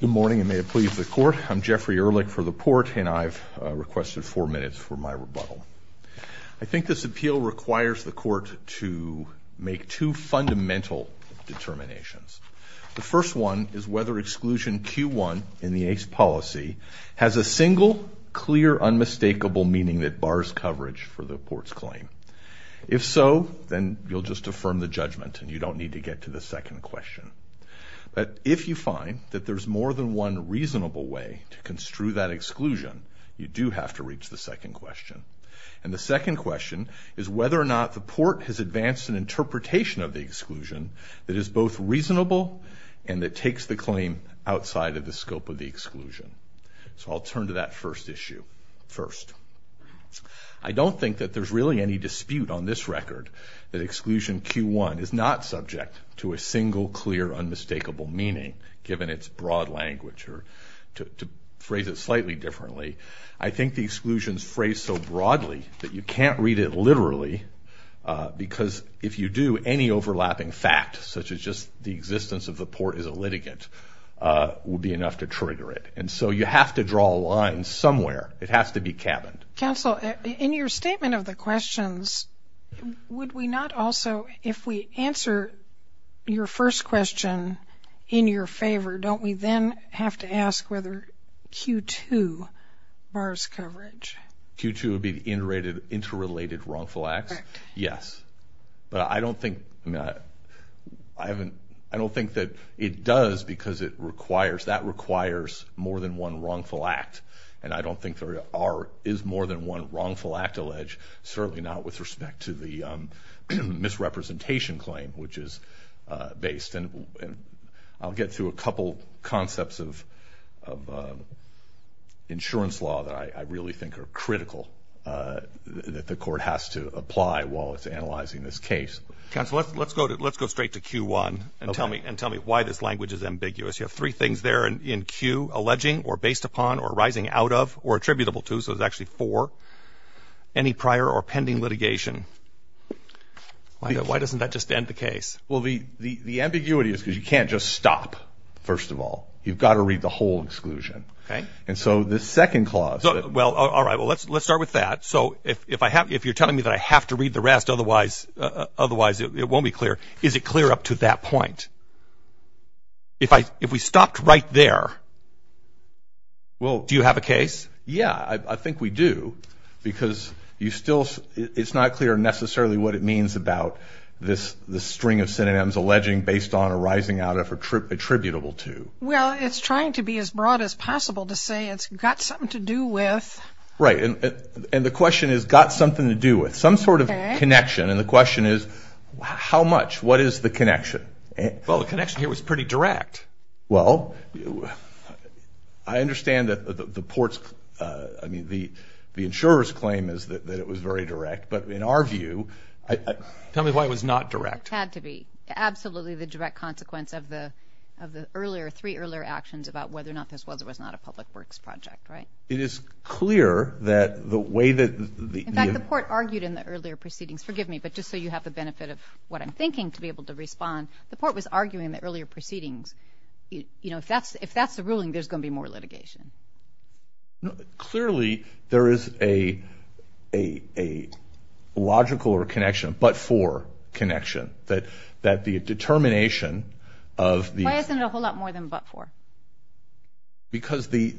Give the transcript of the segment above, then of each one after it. Good morning and may it please the Court. I'm Jeffrey Ehrlich for the Port and I've requested four minutes for my rebuttal. I think this appeal requires the Court to make two fundamental determinations. The first one is whether exclusion Q1 in the Ace policy has a single, clear, unmistakable meaning that bars coverage for the Port's claim. If so, then you'll just affirm the judgment and you don't need to get to the second question. But if you find that there's more than one reasonable way to construe that exclusion, you do have to reach the second question. And the second question is whether or not the Port has advanced an interpretation of the exclusion that is both reasonable and that takes the claim outside of the scope of the exclusion. So I'll turn to that first issue first. I don't think that there's really any dispute on this record that exclusion Q1 is not subject to a single, clear, unmistakable meaning, given its broad language or to phrase it slightly differently. I think the exclusion is phrased so broadly that you can't read it literally because if you do, any overlapping fact, such as just the existence of the Port as a litigant, would be enough to trigger it. And so you have to draw a line somewhere. It has to be cabined. Counsel, in your statement of the questions, would we not also, if we answer your first question in your favor, don't we then have to ask whether Q2 bars coverage? Q2 would be the interrelated wrongful acts? Correct. Yes. But I don't think that it does because that requires more than one wrongful act. And I don't think there are, is more than one wrongful act alleged, certainly not with respect to the misrepresentation claim, which is based. And I'll get through a couple concepts of insurance law that I really think are critical that the court has to apply while it's analyzing this case. Counsel, let's go straight to Q1 and tell me why this language is ambiguous. You have three out of or attributable to, so there's actually four, any prior or pending litigation. Why doesn't that just end the case? Well, the ambiguity is because you can't just stop. First of all, you've got to read the whole exclusion. And so the second clause. Well, all right. Well, let's start with that. So if you're telling me that I have to read the rest, otherwise it won't be clear. Is it clear up to that point? If we stopped right there, well, do you have a case? Yeah, I think we do. Because you still, it's not clear necessarily what it means about this string of synonyms alleging based on arising out of attributable to. Well, it's trying to be as broad as possible to say it's got something to do with. Right. And the question is, got something to do with some sort of connection. And the question is, how much, what is the connection? Well, the connection here was pretty direct. Well, I understand that the port's, I mean, the insurer's claim is that it was very direct. But in our view, tell me why it was not direct. Had to be. Absolutely the direct consequence of the earlier, three earlier actions about whether or not this was or was not a public works project, right? It is clear that the way that the- In fact, the port argued in the earlier proceedings, forgive me, but just so you have the benefit of what I'm thinking to be able to respond. The port was arguing that earlier proceedings, if that's the ruling, there's going to be more litigation. Clearly there is a logical or connection, but for connection that the determination of the- Why isn't it a whole lot more than but for? Because the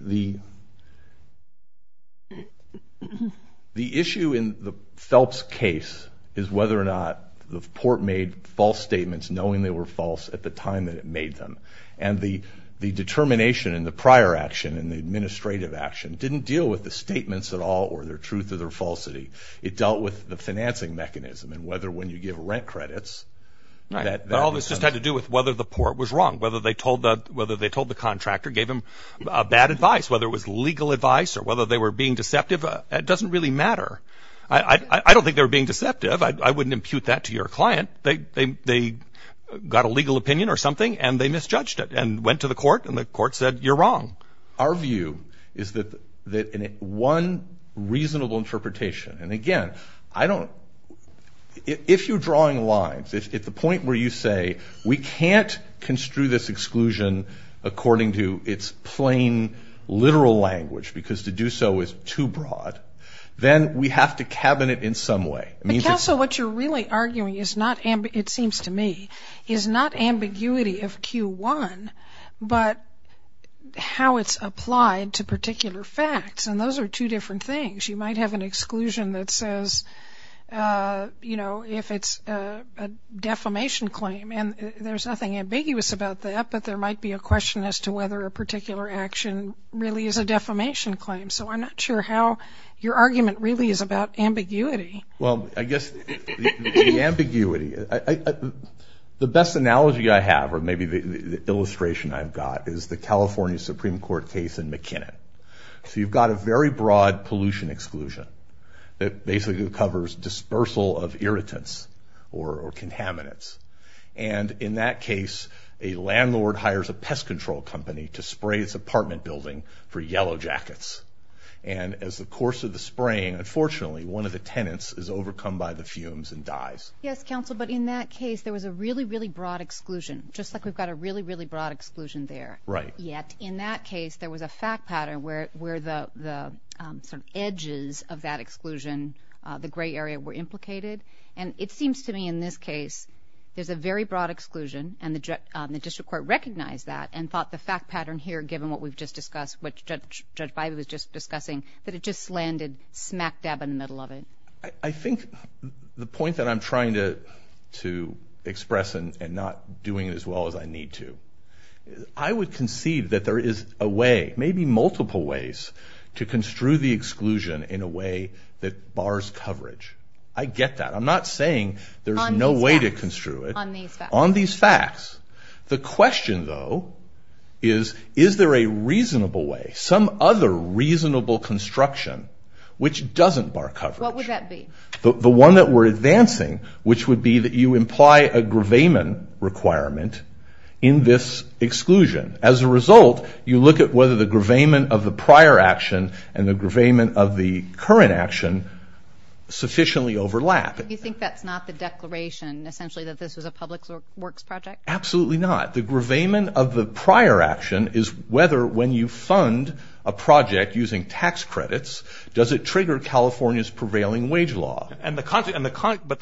issue in the Phelps case is whether or not the port made false statements knowing they were false at the time that it made them. And the determination in the prior action and the administrative action didn't deal with the statements at all or their truth or their falsity. It dealt with the financing mechanism and whether when you give rent credits- But all this just had to do with whether the port was wrong, whether they told the contractor, gave him bad advice, whether it was legal advice or whether they were being deceptive. It doesn't really matter. I don't think they were being deceptive. I wouldn't impute that to your client. They got a legal opinion or something and they misjudged it and went to the court and the court said, you're wrong. Our view is that one reasonable interpretation, and again, I don't- If you're drawing lines at the point where you say we can't construe this exclusion according to its plain literal language because to do so is too broad, then we have to cabinet in some way. Because what you're really arguing is not, it seems to me, is not ambiguity of Q1, but how it's applied to particular facts. And those are two different things. You might have an exclusion that says, you know, if it's a defamation claim and there's nothing ambiguous about that, but there might be a question as to whether a particular action really is a defamation claim. So I'm not sure how your argument really is about ambiguity. Well, I guess the ambiguity, the best analogy I have or maybe the illustration I've got is the California Supreme Court case in McKinnon. So you've got a very broad pollution exclusion that basically covers dispersal of irritants or contaminants. And in that case, a landlord hires a pest control company to spray its apartment building for yellow jackets. And as the course of the spraying, unfortunately, one of the tenants is overcome by the fumes and dies. Yes, counsel. But in that case, there was a really, really broad exclusion, just like we've got a really, really broad exclusion there. Right. Yet in that case, there was a fact pattern where the sort of edges of that exclusion, the gray area were implicated. And it seems to me in this case, there's a very broad exclusion. And the district court recognized that and thought the fact pattern here, given what we've just discussed, what Judge Biden was just discussing, that it just landed smack dab in the middle of it. I think the point that I'm trying to express and not doing as well as I need to, I would concede that there is a way, maybe multiple ways to construe the exclusion in a way that bars coverage. I get that. I'm not saying there's no way to construe it on these facts. The question, though, is, is there a reasonable way, some other reasonable construction, which doesn't bar coverage? What would that be? The one that we're advancing, which would be that you imply a gravamen requirement in this exclusion. As a result, you look at whether the gravamen of the prior action and the gravamen of the current action sufficiently overlap. You think that's not the declaration, essentially, that this was a public works project? Absolutely not. The gravamen of the prior action is whether when you fund a project using tax credits, does it trigger California's prevailing wage law? But the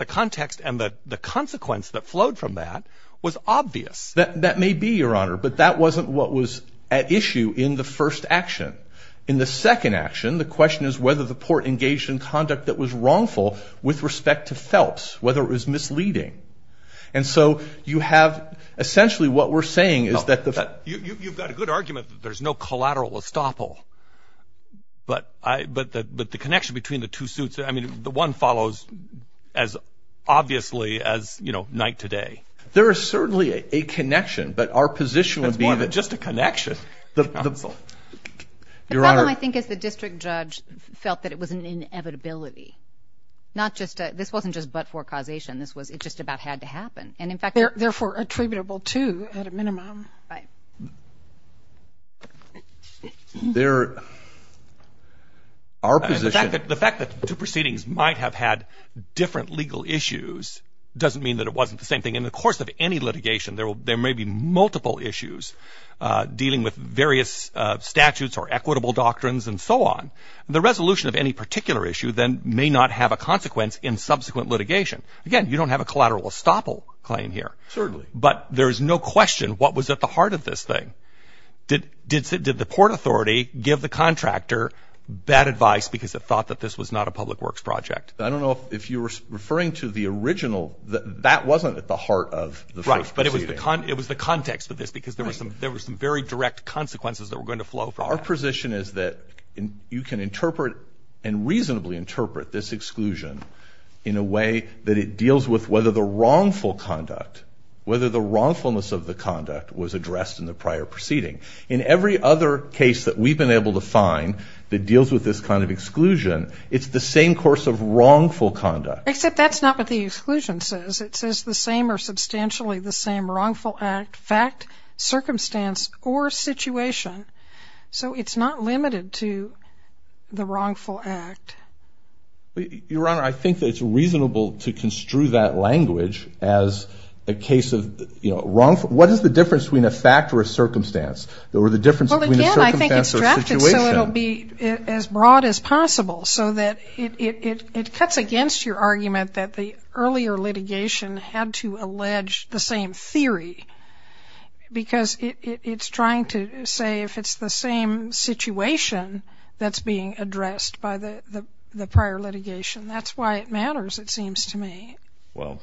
context and the consequence that flowed from that was obvious. That may be, Your Honor, but that wasn't what was at issue in the first action. In the second action, the question is whether the port engaged in conduct that was wrongful with respect to Phelps, whether it was misleading. And so you have, essentially, what we're saying is that... You've got a good argument that there's no collateral estoppel, but the connection between the two suits, I mean, the one follows as obviously as, you know, night to day. There is certainly a connection, but our position would be... That's more than just a connection. The problem, I think, is the district judge felt that it was an inevitability, not just... This wasn't just but for causation. This was... It just about had to happen. And, in fact... Therefore, attributable to, at a minimum. There... Our position... The fact that two proceedings might have had different legal issues doesn't mean that it wasn't the same thing. In the course of any litigation, there may be multiple issues dealing with various statutes or equitable doctrines and so on. The resolution of any particular issue then may not have a consequence in subsequent litigation. Again, you don't have a collateral estoppel claim here. Certainly. But there is no question what was at the heart of this thing. Did the port authority give the contractor bad advice because it thought that this was not a public works project? I don't know if you were referring to the original... That wasn't at the heart of the first It was the context of this because there were some very direct consequences that were going to flow from that. Our position is that you can interpret and reasonably interpret this exclusion in a way that it deals with whether the wrongful conduct, whether the wrongfulness of the conduct was addressed in the prior proceeding. In every other case that we've been able to find that deals with this kind of exclusion, it's the same course of wrongful conduct. Except that's not what the exclusion says. It says the same or substantially the same wrongful act, fact, circumstance, or situation. So it's not limited to the wrongful act. Your Honor, I think that it's reasonable to construe that language as a case of wrongful... What is the difference between a fact or a circumstance or the difference between a circumstance or a situation? Well, again, I think it's drafted so it'll be as broad as possible so that it cuts against your argument that the earlier litigation had to allege the same theory because it's trying to say if it's the same situation that's being addressed by the prior litigation. That's why it matters, it seems to me. Well,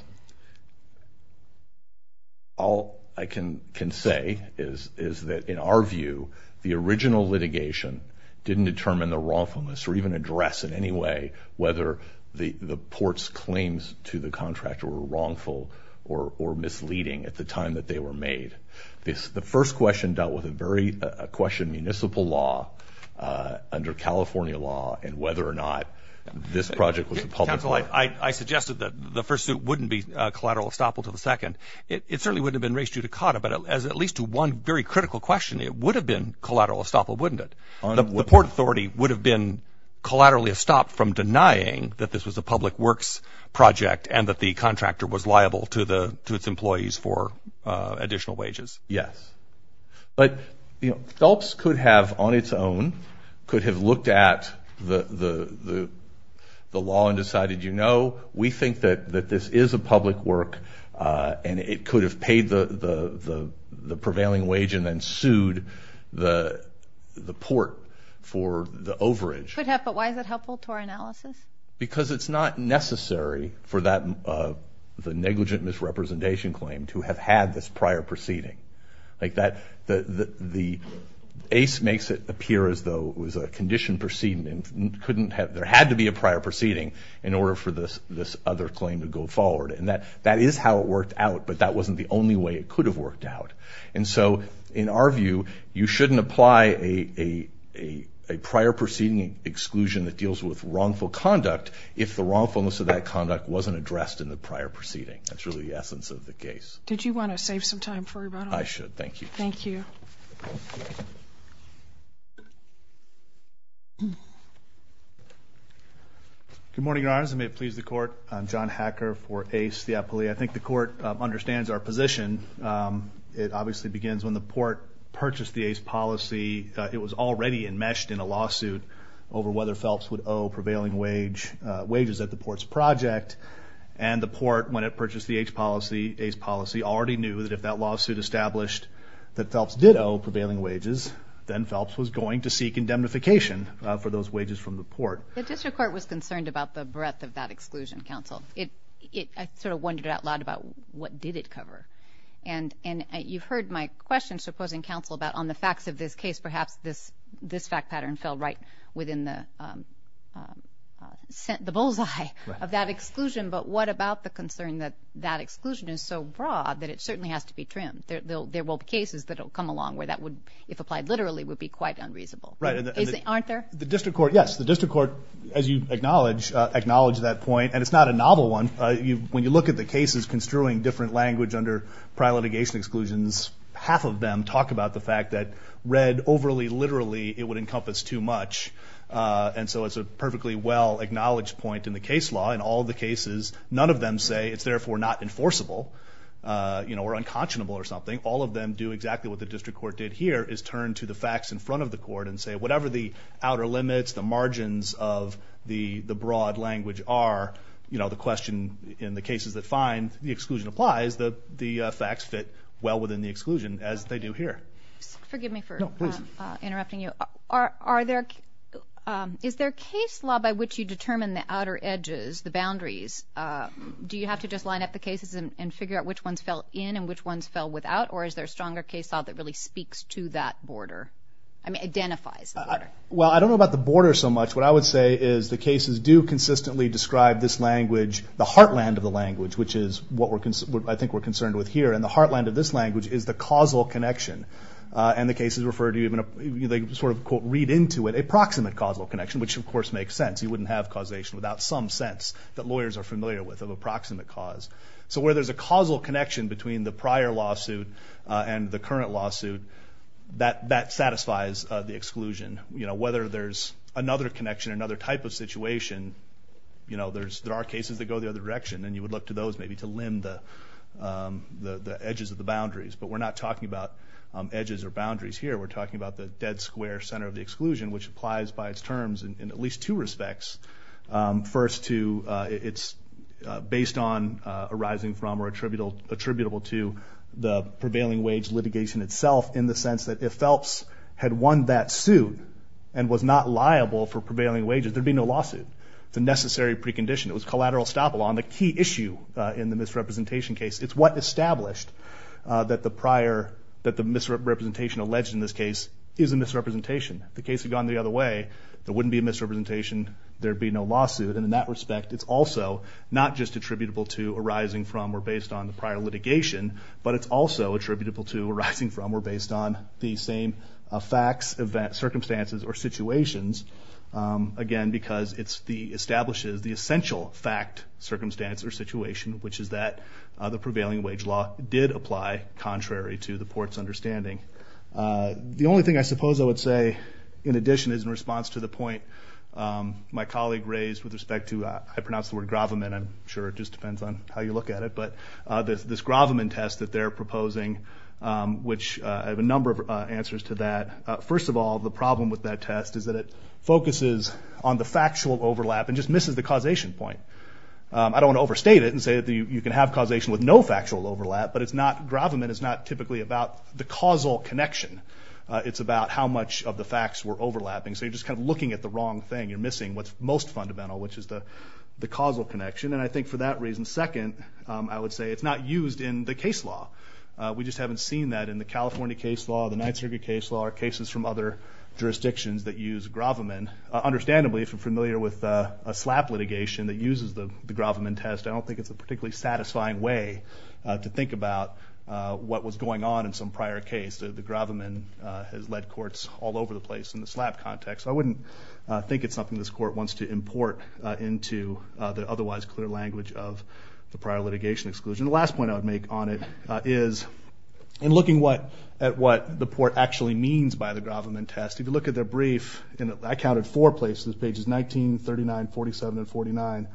all I can say is that in our view, the original litigation didn't determine the wrongfulness or even address in any way whether the port's claims to the contract were wrongful or misleading at the time that they were made. The first question dealt with a very question of municipal law under California law and whether or not this project was a public... Counsel, I suggested that the first suit wouldn't be collateral estoppel to the second. It certainly wouldn't have been raised judicata, but as at least to one very critical question, it would have been collaterally estopped from denying that this was a public works project and that the contractor was liable to its employees for additional wages. Yes. But, you know, Phelps could have on its own, could have looked at the law and decided, you know, we think that this is a public work and it could have paid the prevailing wage and then Why is that helpful to our analysis? Because it's not necessary for the negligent misrepresentation claim to have had this prior proceeding. The ACE makes it appear as though it was a conditioned proceeding and there had to be a prior proceeding in order for this other claim to go forward. And that is how it worked out, but that wasn't the only way it could have worked out. And so in our view, you shouldn't apply a prior proceeding exclusion that deals with wrongful conduct if the wrongfulness of that conduct wasn't addressed in the prior proceeding. That's really the essence of the case. Did you want to save some time for a rebuttal? I should. Thank you. Thank you. Good morning, Your Honors. I may please the court. I'm John Hacker for ACE, the appellee. I think the court understands our position. It obviously begins when the Port purchased the ACE policy. It was already enmeshed in a lawsuit over whether Phelps would owe prevailing wages at the Port's project. And the Port, when it purchased the ACE policy, already knew that if that lawsuit established that Phelps did owe prevailing wages, then Phelps was going to seek indemnification for those wages from the Port. The district court was concerned about the breadth of that exclusion, counsel. I sort of wondered out loud about what did it cover? And you've heard my question, supposing, counsel, about on the facts of this case, perhaps this fact pattern fell right within the bullseye of that exclusion. But what about the concern that that exclusion is so broad that it certainly has to be trimmed? There will be cases that will come along where that would, if applied literally, would be quite unreasonable. Aren't there? The district court, yes. The district court, as you acknowledge, acknowledged that point. And it's not a novel one. When you look at the cases construing different language under prior litigation exclusions, half of them talk about the fact that read overly literally, it would encompass too much. And so it's a perfectly well-acknowledged point in the case law. In all the cases, none of them say it's therefore not enforceable or unconscionable or something. All of them do exactly what the district court did here, is turn to the facts in front of court and say whatever the outer limits, the margins of the broad language are, you know, the question in the cases that find the exclusion applies, the facts fit well within the exclusion as they do here. Forgive me for interrupting you. Is there a case law by which you determine the outer edges, the boundaries? Do you have to just line up the cases and figure out which ones fell in and which ones fell without? Or is there a stronger case law that really speaks to that border? Well, I don't know about the border so much. What I would say is the cases do consistently describe this language, the heartland of the language, which is what I think we're concerned with here. And the heartland of this language is the causal connection. And the cases refer to even a sort of quote, read into it, a proximate causal connection, which of course makes sense. You wouldn't have causation without some sense that lawyers are familiar with of a proximate cause. So where there's a causal connection between the prior lawsuit and the current lawsuit, that satisfies the exclusion. Whether there's another connection, another type of situation, there are cases that go the other direction. And you would look to those maybe to limb the edges of the boundaries. But we're not talking about edges or boundaries here. We're talking about the dead square center of the exclusion, which applies by its terms in at least two respects. First to, it's based on arising from or attributable to the prevailing wage litigation itself in the sense that if Phelps had won that suit and was not liable for prevailing wages, there'd be no lawsuit. It's a necessary precondition. It was collateral estoppel on the key issue in the misrepresentation case. It's what established that the prior, that the misrepresentation alleged in this case is a misrepresentation. If the case had gone the other way, there wouldn't be a misrepresentation, there'd be no lawsuit. And in that respect, it's also not just attributable to arising from or based on the prior litigation, but it's also attributable to arising from or based on the same facts, circumstances, or situations. Again, because it establishes the essential fact, circumstance, or situation, which is that the prevailing wage law did apply contrary to the court's understanding. The only thing I suppose I would say in addition is in response to the point my colleague raised with respect to, I pronounce the word Graviman, I'm sure it just depends on how you look at it, but this Graviman test that they're proposing, which I have a number of answers to that. First of all, the problem with that test is that it focuses on the factual overlap and just misses the causation point. I don't want to overstate it and say that you can have causation with no connection. It's about how much of the facts were overlapping. So you're just kind of looking at the wrong thing. You're missing what's most fundamental, which is the causal connection. And I think for that reason, second, I would say it's not used in the case law. We just haven't seen that in the California case law, the Ninth Circuit case law, or cases from other jurisdictions that use Graviman. Understandably, if you're familiar with a SLAP litigation that uses the Graviman test, I don't think it's a particularly satisfying way to think about what was going on in some prior case. The Graviman has led courts all over the place in the SLAP context, so I wouldn't think it's something this court wants to import into the otherwise clear language of the prior litigation exclusion. The last point I would make on it is, in looking at what the court actually means by the Graviman test, if you look at their brief, and I counted four places, pages 19, 39, 47, and 49,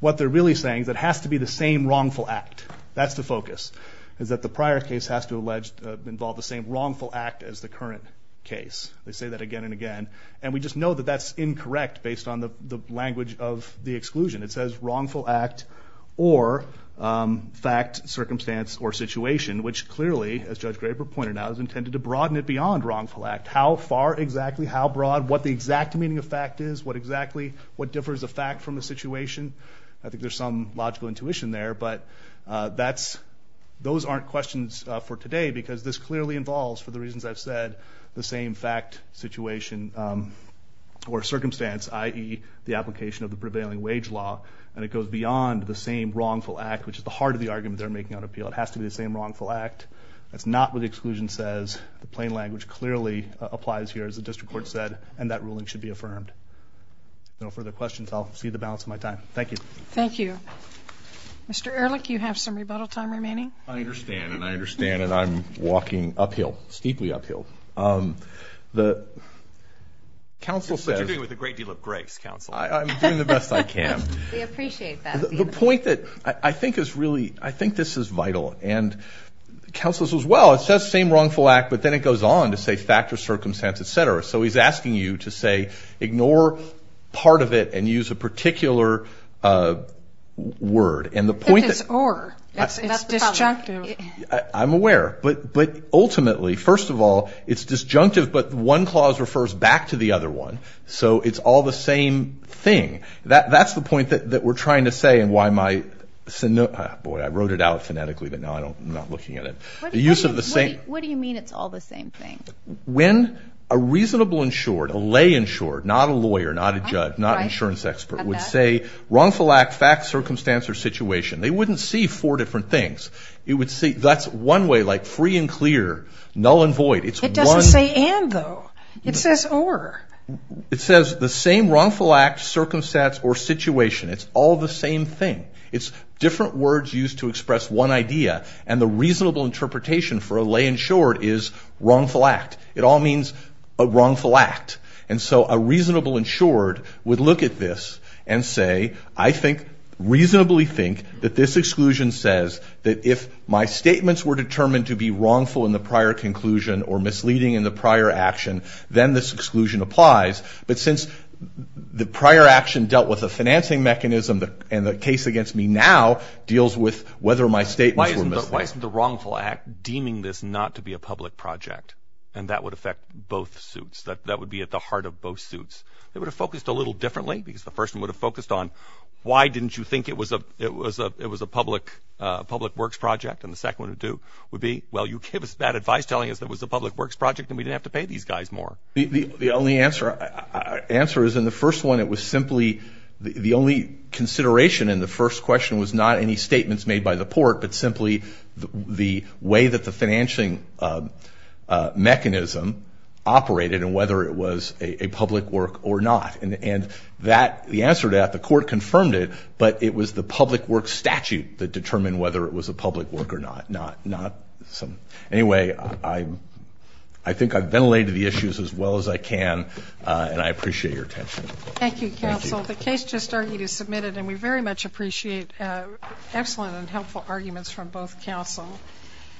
what they're really saying is it has to be the same wrongful act. That's the focus, is that the prior case has to involve the same wrongful act as the current case. They say that again and again, and we just know that that's incorrect based on the language of the exclusion. It says wrongful act or fact, circumstance, or situation, which clearly, as Judge Graber pointed out, is intended to broaden it beyond wrongful act. How far exactly, how broad, what the exact meaning of fact is, what differs a fact from a situation. I think there's some logical intuition there, but those aren't questions for today, because this clearly involves, for the reasons I've said, the same fact, situation, or circumstance, i.e. the application of the prevailing wage law, and it goes beyond the same wrongful act, which is the heart of the argument they're making on appeal. It has to be the same wrongful act. That's not what the exclusion says. The plain language clearly applies here, as the district court said, and that ruling should be affirmed. No further questions. I'll see the balance of my time. Thank you. Thank you. Mr. Ehrlich, you have some rebuttal time remaining. I understand, and I understand, and I'm walking uphill, steeply uphill. What you're doing with a great deal of grace, counsel. I'm doing the best I can. We appreciate that. The point that I think is really, I think this is vital, and counsel's as well. It says same wrongful act, but then it goes on to say fact or circumstance, etc. So he's asking you to say ignore part of it and use a particular word. It's or. It's disjunctive. I'm aware. But ultimately, first of all, it's disjunctive, but one clause refers back to the other one. So it's all the same thing. That's the point that we're trying to say, and why my... Boy, I wrote it out phonetically, but now I'm not looking at it. What do you mean it's all the same thing? When a reasonable insured, a lay insured, not a lawyer, not a judge, not an insurance expert, would say wrongful act, fact, circumstance, or situation, they wouldn't see four different things. That's one way, like free and clear, null and void. It doesn't say and, though. It says or. It says the same wrongful act, circumstance, or situation. It's all the same thing. It's different words used to express one idea, and the reasonable interpretation for a lay insured is wrongful act. It all means wrongful act. And so a reasonable insured would look at this and say, I think, reasonably think, that this exclusion says that if my statements were determined to be wrongful in the prior conclusion or misleading in the prior action, then this exclusion applies. But since the prior action dealt with a financing mechanism, and the case against me now deals with whether my statements were misleading. Why isn't the wrongful act deeming this not to be a public project? And that would affect both suits. That would be at the heart of both suits. They would have focused a little differently, because the first one would have focused on, why didn't you think it was a public works project? And the second one would be, well, you gave us bad advice telling us it was a public works project and we didn't have to pay these guys more. The only answer is in the first one, it was simply, the only consideration in the first question was not any statements made by the court, but simply the way that the financing mechanism operated and whether it was a public work or not. And the answer to that, the court confirmed it, but it was the public works statute that determined whether it was a public work or not. Anyway, I think I've ventilated the issues as well as I can, and I appreciate your attention. Thank you, counsel. The case just argued is adjourned.